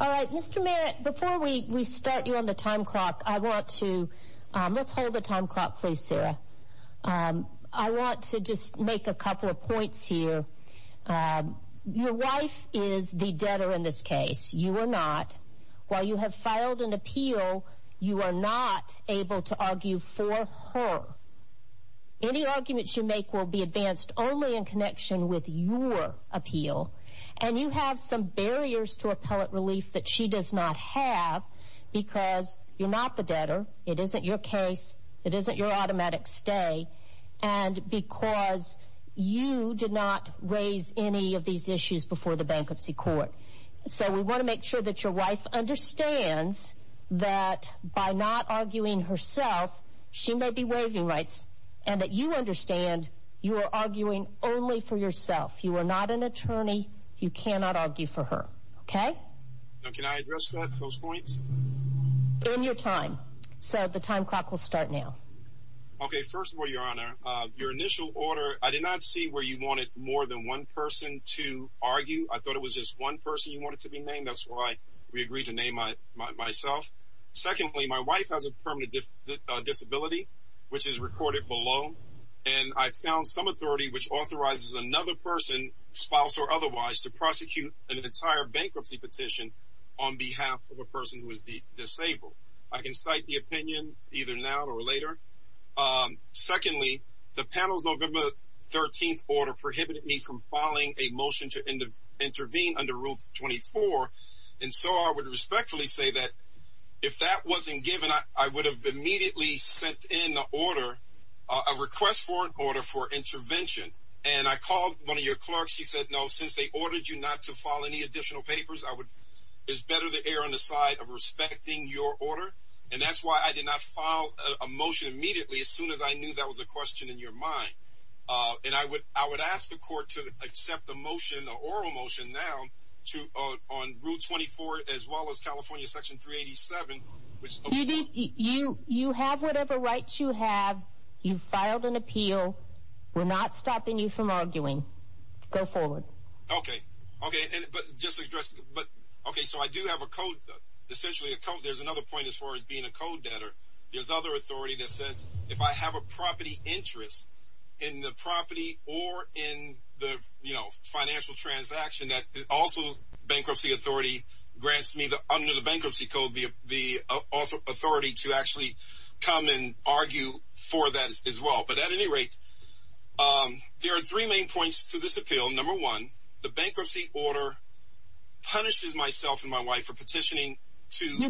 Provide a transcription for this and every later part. All right, Mr. Merritt, before we start you on the time clock, I want to, let's hold the time clock please, Sarah. I want to just make a couple of points here. Your wife is the debtor in this case. You are not. While you have filed an appeal, you are not able to argue for her. Any arguments you make will be advanced only in connection with your appeal. And you have some barriers to appellate relief that she does not have because you're not the debtor, it isn't your case, it isn't your automatic stay, and because you did not raise any of these issues before the bankruptcy court. So we want to make sure that your wife understands that by not arguing herself, she may be waiving rights, and that you understand you are arguing only for yourself. You are not an attorney. You cannot argue for her. Okay? Now, can I address those points? In your time. So the time clock will start now. Okay, first of all, Your Honor, your initial order, I did not see where you wanted more than one person to argue. I thought it was just one person you wanted to be named. That's why we agreed to name myself. Secondly, my wife has a permanent disability, which is recorded below, and I found some authority which authorizes another person, spouse or otherwise, to prosecute an entire bankruptcy petition on behalf of a person who is disabled. I can cite the opinion either now or later. Secondly, the panel's November 13th order prohibited me from filing a motion to intervene under Rule 24, and so I would respectfully say that if that wasn't given, I would have immediately sent in the order, a request for an order for intervention, and I called one of your clerks. He said, no, since they ordered you not to file any additional papers, it's better to err on the side of respecting your order, and that's why I did not file a motion immediately as soon as I knew that was a question in your mind, and I would ask the court to accept a motion, an oral motion now on Rule 24 as well as California Section 387. You have whatever rights you have. You filed an appeal. We're not stopping you from arguing. Go forward. Okay, okay, but just to address, but okay, so I do have a code, essentially a code. There's another point as far as being a code debtor. There's other authority that says if I have a property interest in the property or in the, you know, financial transaction that also bankruptcy authority grants me under the bankruptcy code the authority to actually come and argue for that as well, but at any rate, there are three main points to this appeal. Number one, the bankruptcy order punishes myself and my wife for petitioning to...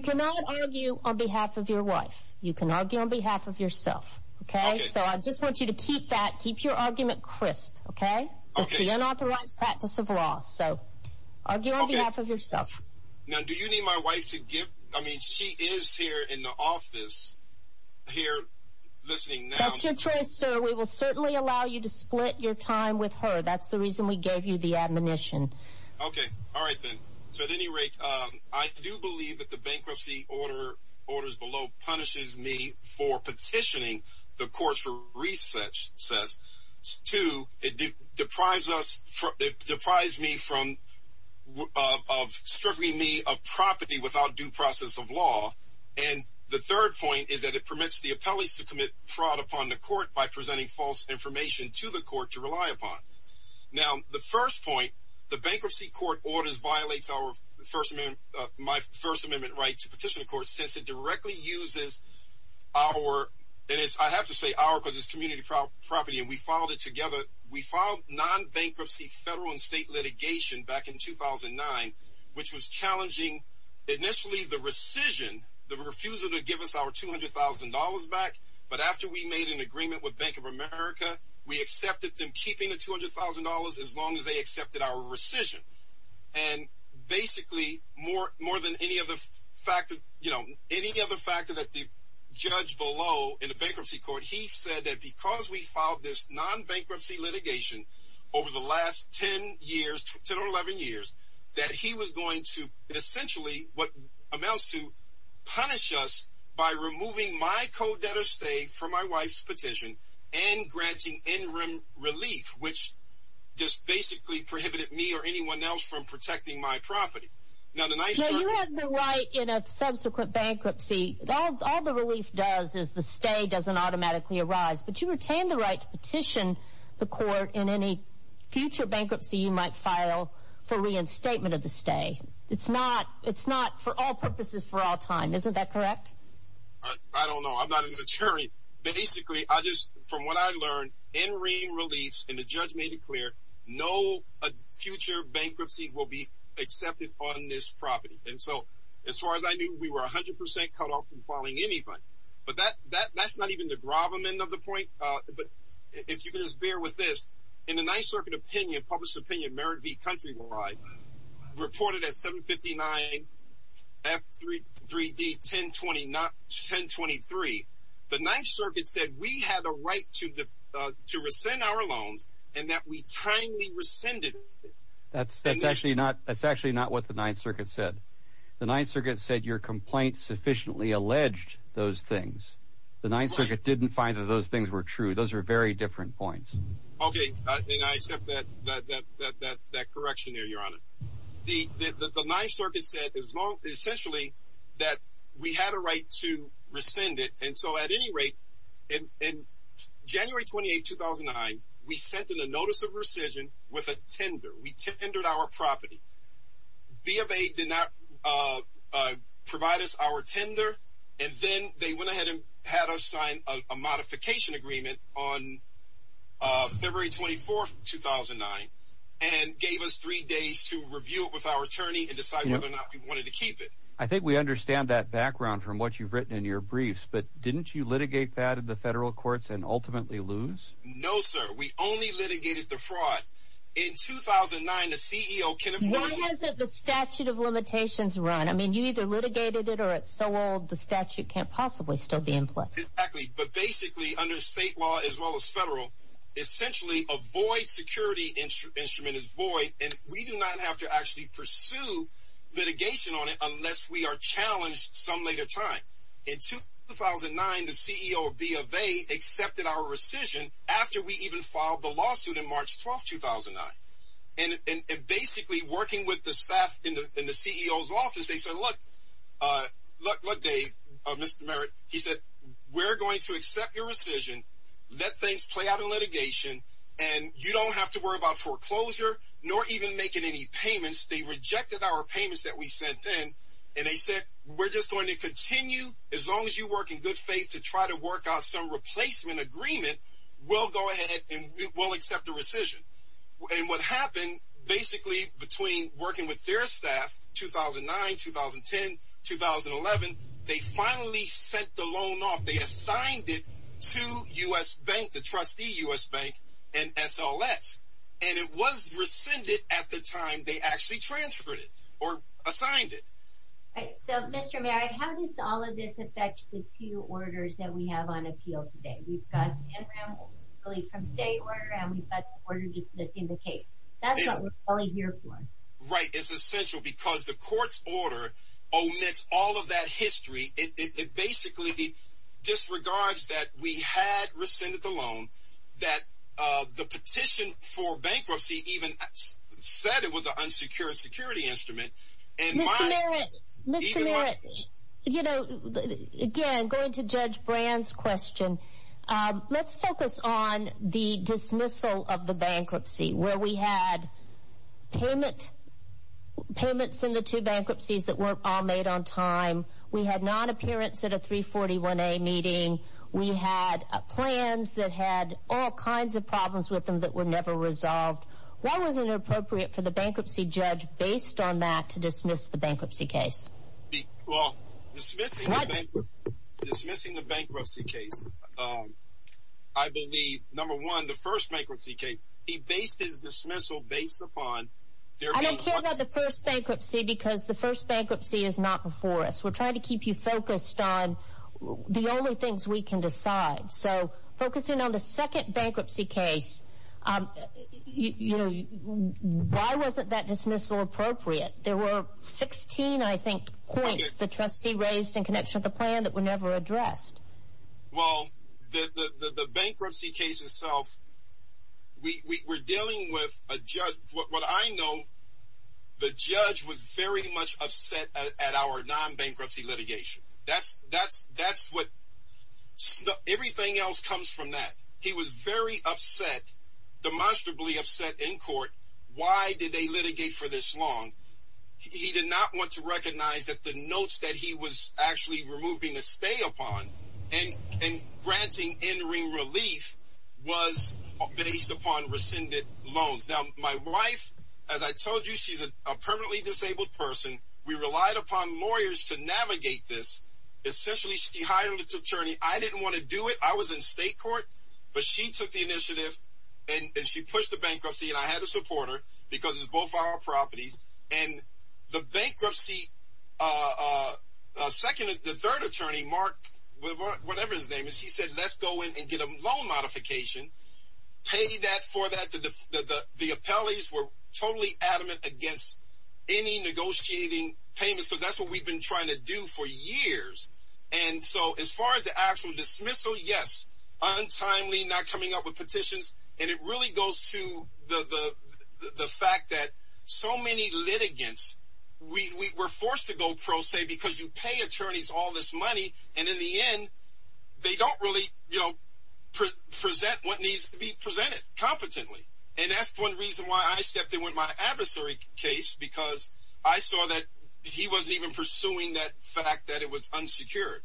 Okay, so I just want you to keep that, keep your argument crisp, okay? That's the unauthorized practice of law, so argue on behalf of yourself. Now, do you need my wife to give, I mean, she is here in the office, here listening now. That's your choice, sir. We will certainly allow you to split your time with her. That's the reason we gave you the admonition. Okay, all right then. So at any rate, I do believe that the bankruptcy order, orders punishes me for petitioning the courts for research, says, two, it deprives us, it deprives me from, of stripping me of property without due process of law, and the third point is that it permits the appellees to commit fraud upon the court by presenting false information to the court to rely upon. Now, the first point, the bankruptcy court orders violates our First Amendment, my First Amendment, our, and I have to say our because it's community property, and we filed it together. We filed non-bankruptcy federal and state litigation back in 2009, which was challenging initially the rescission, the refusal to give us our $200,000 back, but after we made an agreement with Bank of America, we accepted them keeping the $200,000 as long as they accepted our rescission, and basically, more than any other factor, you know, any other factor that the judge below in the bankruptcy court, he said that because we filed this non-bankruptcy litigation over the last 10 years, 10 or 11 years, that he was going to essentially what amounts to punish us by removing my co-debtor's stay from my wife's petition and granting interim relief, which just basically prohibited me or anyone else from protecting my property. Now, you have the right in a subsequent bankruptcy, all the relief does is the stay doesn't automatically arise, but you retain the right to petition the court in any future bankruptcy you might file for reinstatement of the stay. It's not for all purposes for all time, isn't that correct? I don't know. I'm not an attorney. Basically, I just, from what I learned, interim relief, and the judge made it clear, no future bankruptcies will be accepted on this property. And so, as far as I knew, we were 100% cut off from filing anything, but that's not even the gravamen of the point, but if you can just bear with this, in the Ninth Circuit opinion, published opinion, Merritt v. Countrywide, reported at 759 F3D 1023, the Ninth Circuit said we had the right to rescind our loans, and that we timely rescinded it. That's actually not what the Ninth Circuit said. The Ninth Circuit said your complaint sufficiently alleged those things. The Ninth Circuit didn't find that those things were true. Those are very different points. Okay, and I accept that correction there, Your Honor. The Ninth Circuit said, essentially, that we had a right to rescind it, and so at any point in 2009, we sent in a notice of rescission with a tender. We tendered our property. BFA did not provide us our tender, and then they went ahead and had us sign a modification agreement on February 24th, 2009, and gave us three days to review it with our attorney and decide whether or not we wanted to keep it. I think we understand that background from what you've written in your briefs, but didn't you litigate that in the federal courts and ultimately lose? No, sir. We only litigated the fraud. In 2009, the CEO can- Why hasn't the statute of limitations run? I mean, you either litigated it or it's so old, the statute can't possibly still be in place. Exactly, but basically, under state law as well as federal, essentially, a void security instrument is void, and we do not have to actually pursue litigation on it unless we are challenged some later time. In 2009, the CEO of BFA accepted our rescission after we even filed the lawsuit in March 12th, 2009. Basically, working with the staff in the CEO's office, they said, look, Dave, Mr. Merritt, he said, we're going to accept your rescission, let things play out in litigation, and you don't have to worry about foreclosure nor even making any payments. They rejected our payments that we sent in, and they said, we're just going to continue as long as you work in good faith to try to work out some replacement agreement, we'll go ahead and we'll accept the rescission. What happened, basically, between working with their staff, 2009, 2010, 2011, they finally sent the loan off. They assigned it to U.S. Bank, the trustee U.S. Bank, and SLS, and it was rescinded at the time they actually transferred it, or assigned it. Right, so Mr. Merritt, how does all of this affect the two orders that we have on appeal today? We've got the Enron relief from state order, and we've got the order dismissing the case. That's what we're calling here for. Right, it's essential because the court's order omits all of that history. It basically disregards that we had rescinded the loan, that the petition for bankruptcy even said it was an unsecured security instrument. Mr. Merritt, you know, again, going to Judge Brand's question, let's focus on the dismissal of the bankruptcy, where we had payments in the two bankruptcies that weren't all made on time, we had non-appearance at a 341A meeting, we had plans that had all kinds of problems with them that were never resolved. Why was it inappropriate for the bankruptcy judge, based on that, to dismiss the bankruptcy case? Well, dismissing the bankruptcy case, I believe, number one, the first bankruptcy case, he based his dismissal based upon there being one... I don't care about the first bankruptcy because the first bankruptcy is not before us. We're trying to keep you focused on the only things we can decide. So, focusing on the second bankruptcy case, why wasn't that dismissal appropriate? There were 16, I think, points the trustee raised in connection with the plan that were never addressed. Well, the bankruptcy case itself, we're dealing with a judge... What I know, the judge was very much upset at our non-bankruptcy litigation. That's what... Everything else comes from that. He was very upset, demonstrably upset, in court. Why did they litigate for this long? He did not want to recognize that the notes that he was actually removing a stay upon and granting end-ring relief was based upon rescinded loans. Now, my wife, as I told you, she's a permanently disabled person. We relied upon lawyers to navigate this. Essentially, she hired an attorney. I didn't want to do it. I was in state court, but she took the initiative and she pushed the bankruptcy and I had to support her because it's both our properties. The bankruptcy... The third attorney, Mark, whatever his name is, he said, let's go in and get a loan modification. Pay that for that. The appellees were totally adamant against any negotiating payments because that's what we've been trying to do for years. As far as the actual dismissal, yes, untimely, not coming up with petitions. It really goes to the fact that so many litigants, we were forced to go pro se because you pay what needs to be presented competently and that's one reason why I stepped in with my adversary case because I saw that he wasn't even pursuing that fact that it was unsecured.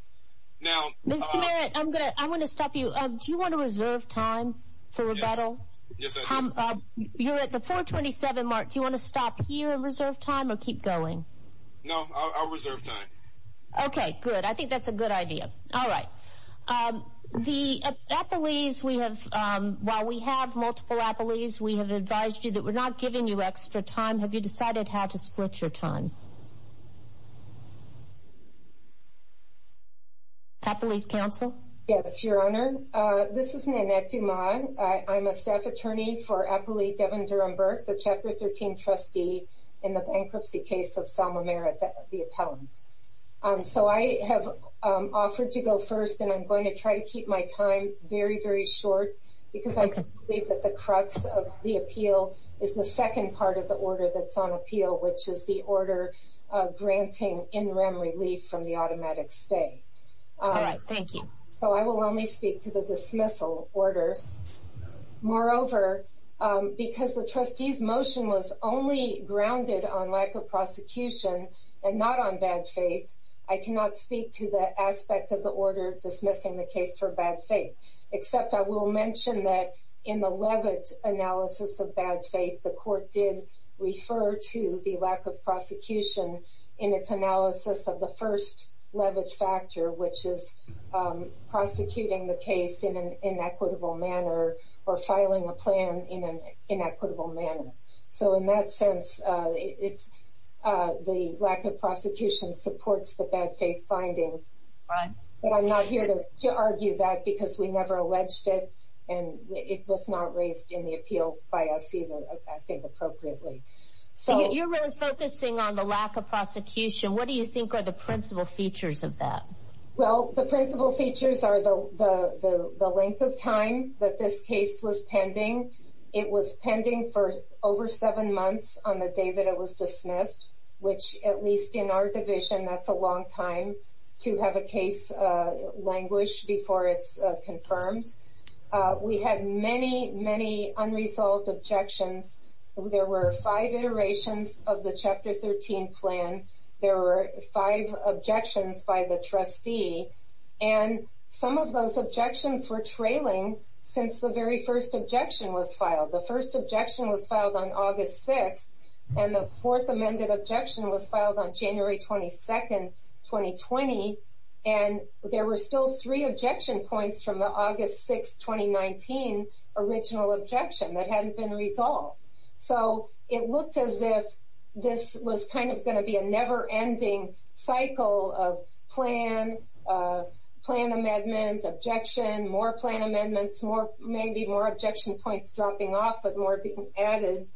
Now... Mr. Merritt, I'm going to stop you. Do you want to reserve time for rebuttal? Yes. Yes, I do. You're at the 427, Mark. Do you want to stop here and reserve time or keep going? No. I'll reserve time. Okay, good. I think that's a good idea. All right. The appellees, we have, while we have multiple appellees, we have advised you that we're not giving you extra time. Have you decided how to split your time? Appellees, counsel? Yes, Your Honor. This is Nanette Dumas. I'm a staff attorney for appellee Devin Durham-Burke, the Chapter 13 trustee in the bankruptcy case of Selma Merritt, the appellant. So I have offered to go first, and I'm going to try to keep my time very, very short because I believe that the crux of the appeal is the second part of the order that's on appeal, which is the order granting in rem relief from the automatic stay. All right. Thank you. So I will only speak to the dismissal order. Moreover, because the trustee's motion was only grounded on lack of prosecution and not on bad faith, I cannot speak to the aspect of the order dismissing the case for bad faith, except I will mention that in the Levitt analysis of bad faith, the court did refer to the lack of prosecution in its analysis of the first Levitt factor, which is prosecuting the case in an inequitable manner or filing a plan in an inequitable manner. So in that sense, it's the lack of prosecution supports the bad faith finding, but I'm not here to argue that because we never alleged it, and it was not raised in the appeal by us either, I think, appropriately. So you're really focusing on the lack of prosecution. What do you think are the principal features of that? Well, the principal features are the length of time that this case was pending. It was pending for over seven months on the day that it was dismissed, which at least in our division, that's a long time to have a case languished before it's confirmed. We had many, many unresolved objections. There were five iterations of the Chapter 13 plan. There were five objections by the trustee, and some of those objections were trailing since the very first objection was filed. The first objection was filed on August 6th, and the fourth amended objection was filed on January 22nd, 2020, and there were still three objection points from the August 6th, 2019 original objection that hadn't been resolved. So it looked as if this was kind of going to be a never-ending cycle of plan, plan amendment, objection, more plan amendments, maybe more objection points dropping off, but more being added.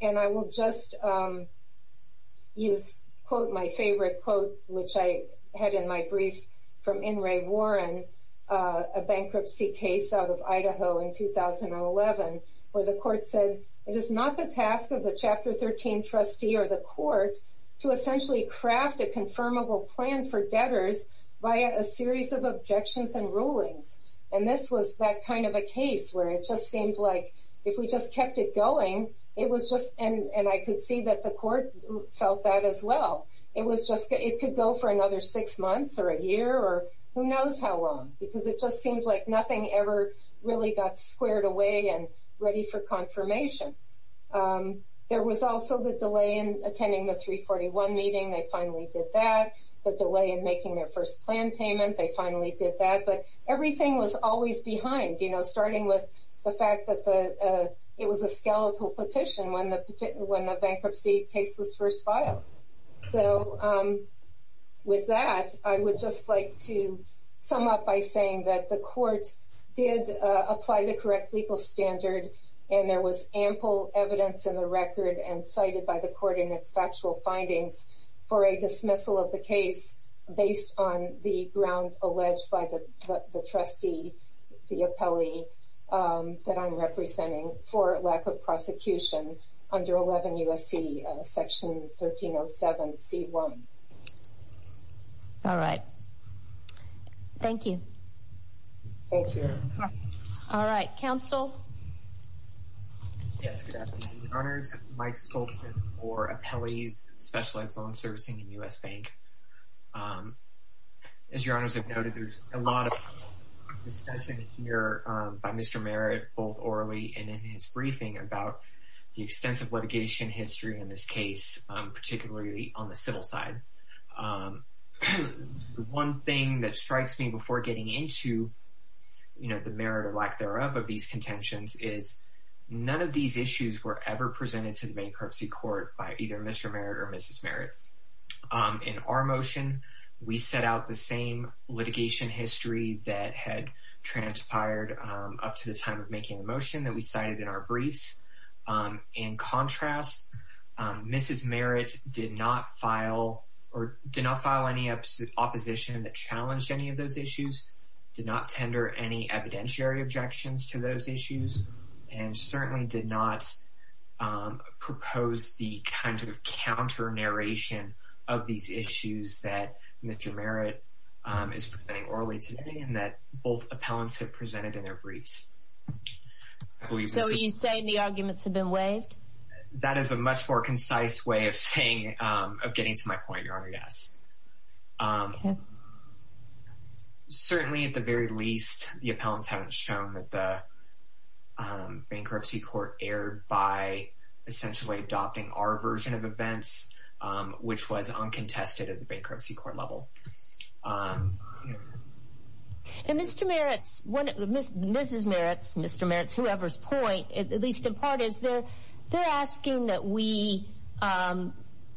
And I will just use, quote, my favorite quote, which I had in my brief from In re Warren, a bankruptcy case out of Idaho in 2011, where the court said, it is not the task of the Chapter 13 trustee or the court to essentially craft a confirmable plan for debtors via a series of objections and rulings. And this was that kind of a case where it just seemed like if we just kept it going, it was just, and I could see that the court felt that as well. It was just, it could go for another six months or a year or who knows how long, because it just seemed like nothing ever really got squared away and ready for confirmation. There was also the delay in attending the 341 meeting, they finally did that. The delay in making their first plan payment, they finally did that. But everything was always behind, starting with the fact that it was a skeletal petition when the bankruptcy case was first filed. So with that, I would just like to sum up by saying that the court did apply the correct legal standard, and there was ample evidence in the record and cited by the court in its factual findings for a dismissal of the case based on the ground alleged by the trustee, the appellee, that I'm representing for lack of prosecution under 11 U.S.C. Section 1307 C.1. All right. Thank you. Thank you. All right. Counsel? Yes, good afternoon, Your Honors. Mike Stoltzman for Appellees Specialized Loan Servicing in U.S. Bank. As Your Honors have noted, there's a lot of discussing here by Mr. Merritt, both orally and in his briefing, about the extensive litigation history in this case, particularly on the civil side. The one thing that strikes me before getting into, you know, the merit or lack thereof of these contentions is none of these issues were ever presented to the bankruptcy court by either Mr. Merritt or Mrs. Merritt. In our motion, we set out the same litigation history that had transpired up to the time of making the motion that we cited in our briefs. In contrast, Mrs. Merritt did not file or did not file any opposition that challenged any of those issues, did not tender any evidentiary objections to those issues, and certainly did not propose the kind of counter narration of these issues that Mr. Merritt is presenting orally today and that both appellants have presented in their briefs. So are you saying the arguments have been waived? That is a much more concise way of saying, of getting to my point, Your Honor, yes. Certainly, at the very least, the appellants haven't shown that the bankruptcy court erred by essentially adopting our version of events, which was uncontested at the bankruptcy court level. And Mr. Merritt, Mrs. Merritt, Mr. Merritt, whoever's point, at least in part, is they're asking that we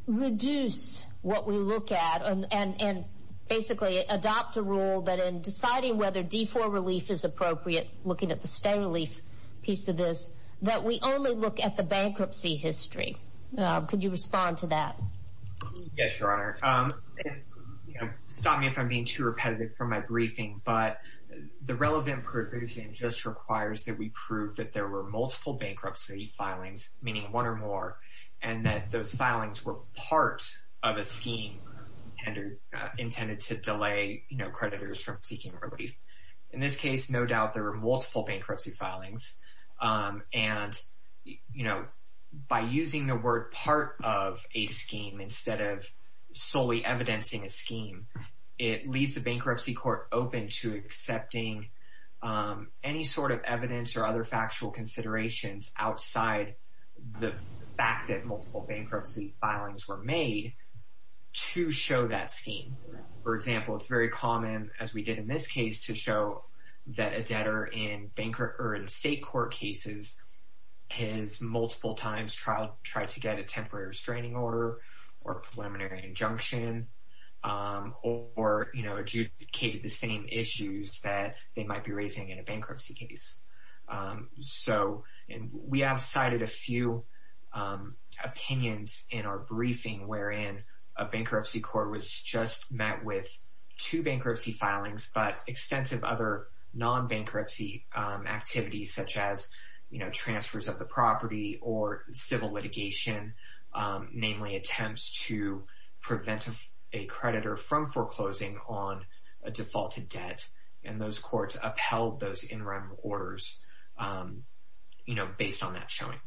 reduce what we look at and basically adopt a rule that in deciding whether D4 relief is appropriate, looking at the stay relief piece of this, that we only look at the bankruptcy history. Could you respond to that? Yes, Your Honor. Stop me if I'm being too repetitive for my briefing, but the relevant provision just requires that we prove that there were multiple bankruptcy filings, meaning one or more, and that those filings were part of a scheme intended to delay creditors from seeking relief. In this case, no doubt there were multiple bankruptcy filings. And, you know, by using the word part of a scheme instead of solely evidencing a scheme, it leaves the bankruptcy court open to accepting any sort of evidence or other factual considerations outside the fact that multiple bankruptcy filings were made to show that scheme. For example, it's very common, as we did in this case, to show that a debtor in state court cases has multiple times tried to get a temporary restraining order or preliminary injunction or, you know, adjudicated the same issues that they might be raising in a bankruptcy case. So we have cited a few opinions in our briefing wherein a bankruptcy court was just met with two bankruptcy filings, but extensive other non-bankruptcy activities such as, you know, transfers of the property or civil litigation, namely attempts to prevent a creditor from foreclosing on a defaulted debt, and those courts upheld those interim orders, you know, based on that showing.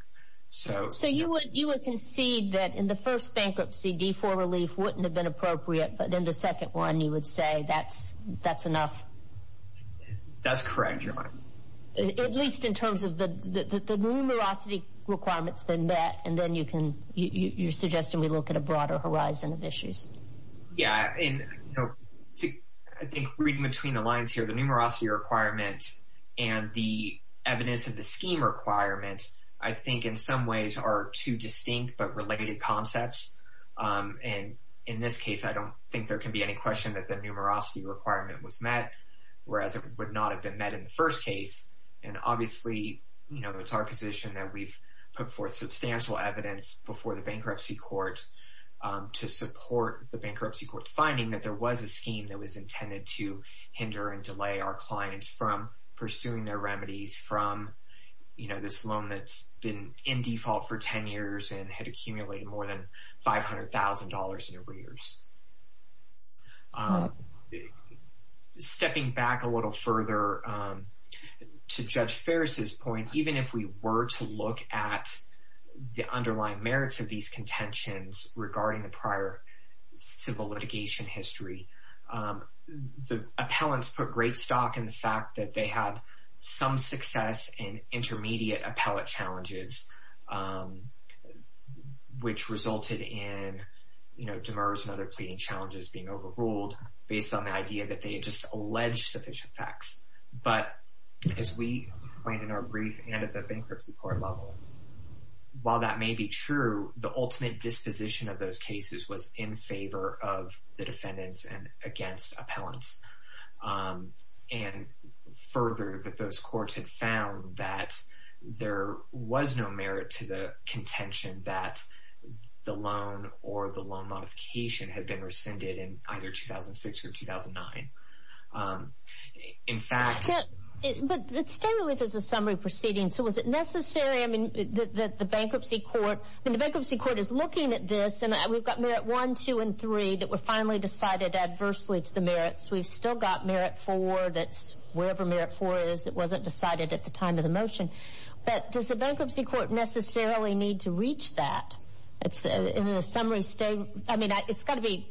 So you would concede that in the first bankruptcy, D-4 relief wouldn't have been appropriate, but in the second one, you would say that's enough? That's correct, Your Honor. At least in terms of the numerosity requirements been met, and then you're suggesting we look at a broader horizon of issues. Yeah, and, you know, I think reading between the lines here, the numerosity requirement and the evidence of the scheme requirements, I think in some ways are two distinct but related concepts. And in this case, I don't think there can be any question that the numerosity requirement was met, whereas it would not have been met in the first case. And obviously, you know, it's our position that we've put forth substantial evidence before the bankruptcy court to support the bankruptcy court's finding that there was a scheme that was intended to hinder and delay our clients from pursuing their remedies from, you know, this loan that's been in default for 10 years and had accumulated more than $500,000 in arrears. Stepping back a little further to Judge Ferris's point, even if we were to look at the underlying merits of these contentions regarding the prior civil litigation history, the appellants put great stock in the fact that they had some success in intermediate appellate challenges, which resulted in, you know, Demers and other pleading challenges being overruled based on the idea that they had just alleged sufficient facts. But as we explained in our brief and at the bankruptcy court level, while that may be true, the ultimate disposition of those cases was in favor of the defendants and against appellants. And further, that those courts had found that there was no merit to the contention that the loan or the loan modification had been rescinded in either 2006 or 2009. In fact... But the state relief is a summary proceeding, so was it necessary, I mean, that the bankruptcy court, and the bankruptcy court is looking at this, and we've got Merit 1, 2, and 3 that were finally decided adversely to the merits. We've still got Merit 4 that's wherever Merit 4 is. It wasn't decided at the time of the motion. But does the bankruptcy court necessarily need to reach that? It's in a summary state, I mean, it's got to be,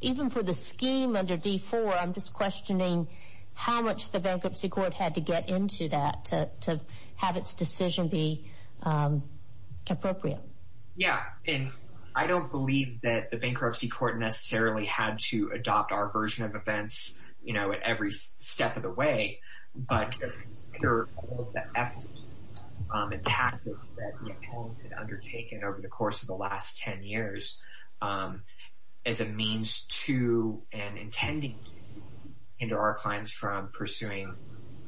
even for the scheme under D4, I'm just questioning how much the bankruptcy court had to get into that to have its decision be appropriate. Yeah, and I don't believe that the bankruptcy court necessarily had to adopt our version of events, you know, at every step of the way, but to consider all of the efforts and tactics that the appellants had undertaken over the course of the last 10 years as a means to and intending to hinder our clients from pursuing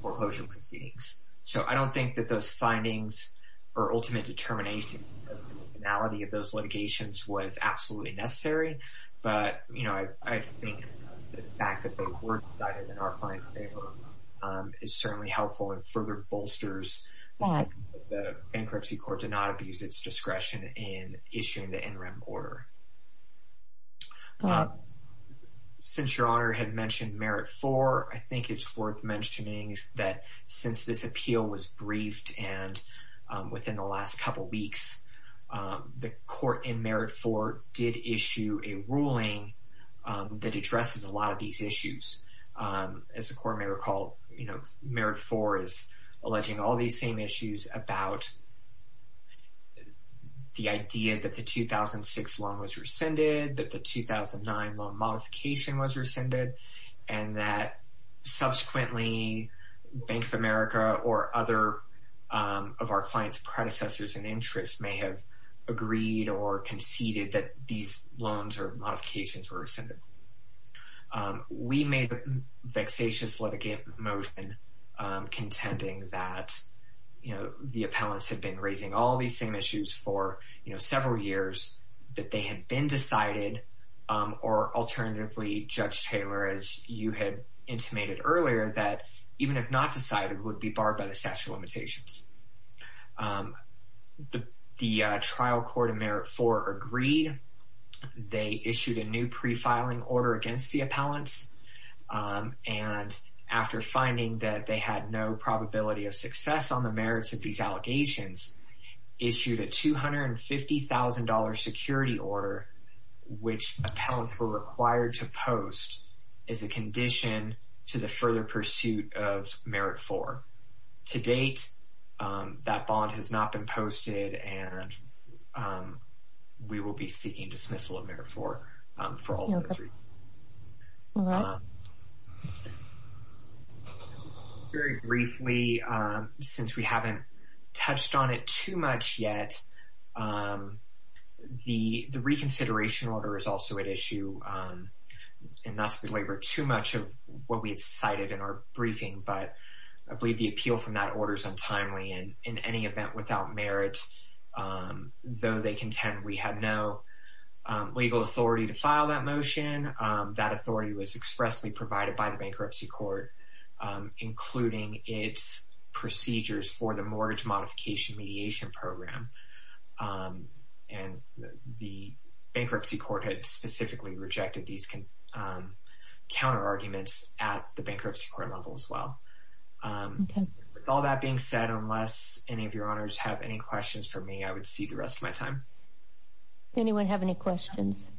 foreclosure proceedings. So I don't think that those findings or ultimate determination of the finality of those litigations was absolutely necessary. But, you know, I think the fact that they were decided in our client's favor is certainly helpful and further bolsters that the bankruptcy court did not abuse its discretion in issuing the NREM order. Since Your Honor had mentioned Merit 4, I think it's worth mentioning that since this appeal was briefed and within the last couple weeks, the court in Merit 4 did issue a ruling that addresses a lot of these issues. As the court may recall, you know, Merit 4 is alleging all these same issues about the idea that the 2006 loan was rescinded, that the 2009 loan modification was rescinded, and that interest may have agreed or conceded that these loans or modifications were rescinded. We made a vexatious litigation motion contending that, you know, the appellants had been raising all these same issues for, you know, several years, that they had been decided, or alternatively, Judge Taylor, as you had intimated earlier, that even if not decided would be barred by the statute of limitations. The trial court in Merit 4 agreed. They issued a new pre-filing order against the appellants, and after finding that they had no probability of success on the merits of these allegations, issued a $250,000 security order, which appellants were required to post as a condition to the bond. That bond has not been posted, and we will be seeking dismissal of Merit 4 for all those reasons. Very briefly, since we haven't touched on it too much yet, the reconsideration order is also at issue. And not to belabor too much of what we've provided in our briefing, but I believe the appeal from that order is untimely, and in any event without merit, though they contend we had no legal authority to file that motion, that authority was expressly provided by the bankruptcy court, including its procedures for the mortgage bankruptcy court level as well. With all that being said, unless any of your honors have any questions for me, I would cede the rest of my time. Anyone have any questions?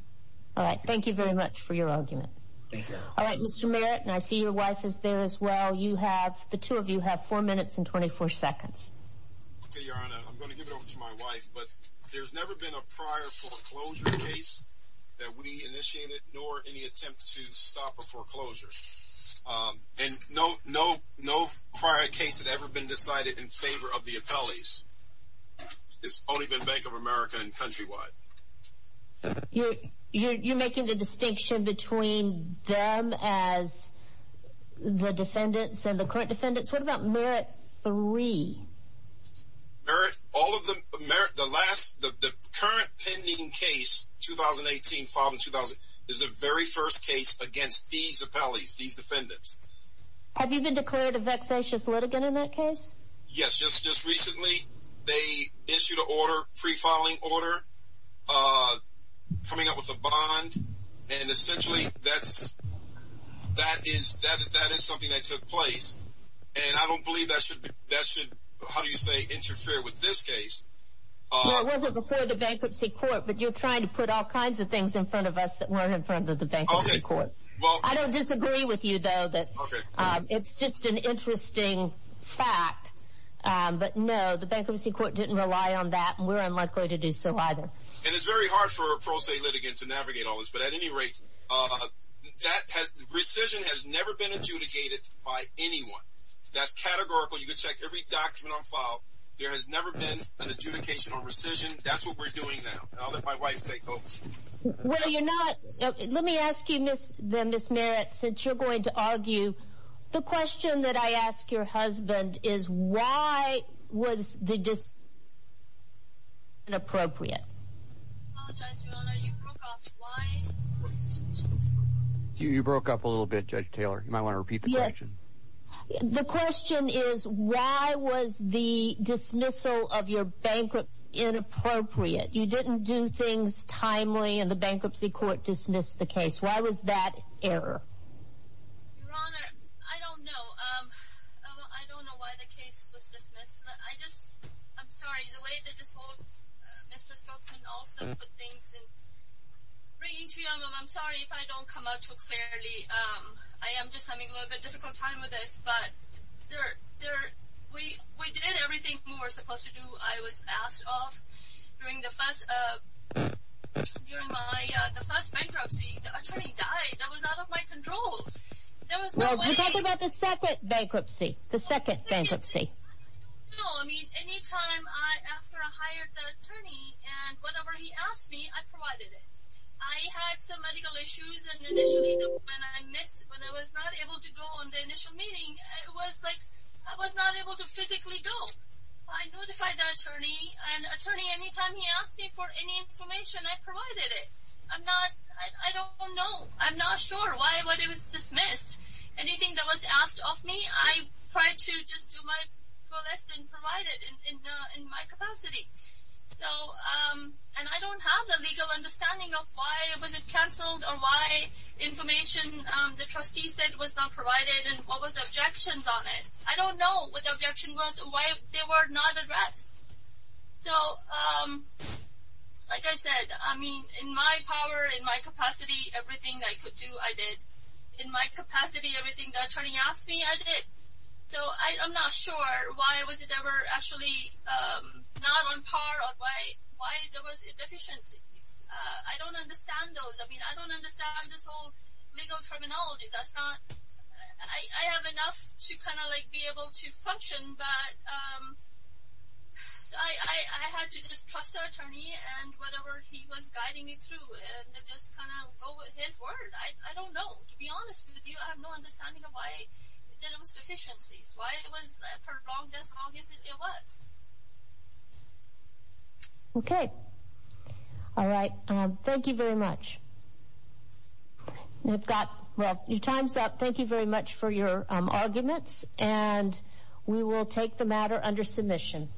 All right, thank you very much for your argument. All right, Mr. Merit, and I see your wife is there as well. You have, the two of you have four minutes and 24 seconds. Your Honor, I'm going to give it over to my wife, but there's never been a prior foreclosure case that we initiated, nor any attempt to stop a foreclosure. And no, no, no prior case that ever been decided in favor of the appellees. It's only been Bank of America and Countrywide. You're, you're making the distinction between them as the defendants and the current defendants. What about Merit 3? Merit, all of them, Merit, the last, the current pending case, 2018 filed in 2000, is the very first case against these appellees, these defendants. Have you been declared a vexatious litigant in that case? Yes, just, just recently, they issued an order, pre-filing order, coming up with a bond. And essentially, that's, that is, that is something that took place. And I don't believe that should be, that should, how do you say, interfere with this case? Well, it wasn't before the bankruptcy court, but you're trying to put all kinds of things in front of us that weren't in front of the bankruptcy court. I don't disagree with you, though, that it's just an interesting fact. But no, the bankruptcy court didn't rely on that, and we're unlikely to do so either. And it's very hard for a pro se litigant to navigate all this. But at any rate, that has, rescission has never been adjudicated by anyone. That's categorical. You can check every document on file. There has never been an adjudication on rescission. That's what we're doing now. I'll let my wife take over. Well, you're not, let me ask you, Ms. Merritt, since you're going to argue, the question that I ask your husband is, why was the dismissal inappropriate? You broke up a little bit, Judge Taylor. You might want to repeat the question. The question is, why was the dismissal of your bankruptcy inappropriate? You didn't do things timely, and the bankruptcy court dismissed the case. Why was that error? Your Honor, I don't know. I don't know why the case was dismissed. I just, I'm sorry, the way that this holds, Mr. Stoltzman also put things in, bringing to you, Your Honor, I'm sorry if I don't come out too clearly. I am just having a little bit difficult time with this, but there, there, we, we did everything we were supposed to do. I was asked off during the first, during my, the first bankruptcy. The attorney died. That was out of my control. There was no way. Talk about the second bankruptcy, the second bankruptcy. No, I mean, anytime I, after I hired the attorney and whatever he asked me, I provided it. I had some medical issues, and initially, when I missed, when I was not able to go on the initial meeting, it was like, I was not able to physically go. I notified the attorney, and attorney, anytime he asked me for any information, I provided it. I'm not, I don't know. I'm not sure why, why it was dismissed. Anything that was asked of me, I tried to just do my part. Well, that's been provided in, in, in my capacity. So, and I don't have the legal understanding of why was it canceled, or why information the trustee said was not provided, and what was objections on it. I don't know what the objection was, or why they were not addressed. So, like I said, I mean, in my power, in my capacity, everything I could do, I did. In my capacity, everything the attorney asked me, I did. So, I'm not sure why was it ever actually not on par, or why, why there was deficiencies. I don't understand those. I mean, I don't understand this whole legal terminology. That's not, I have enough to kind of like be able to function, but, so I, I, I had to just trust the attorney, and whatever he was guiding me through, and just kind of go with his word. I, I don't know. To be honest with you, I have no understanding of why there was deficiencies. Why it was prolonged as long as it was. Okay. All right. Thank you very much. We've got, well, your time's up. Thank you very much for your arguments, and we will take the matter under submission.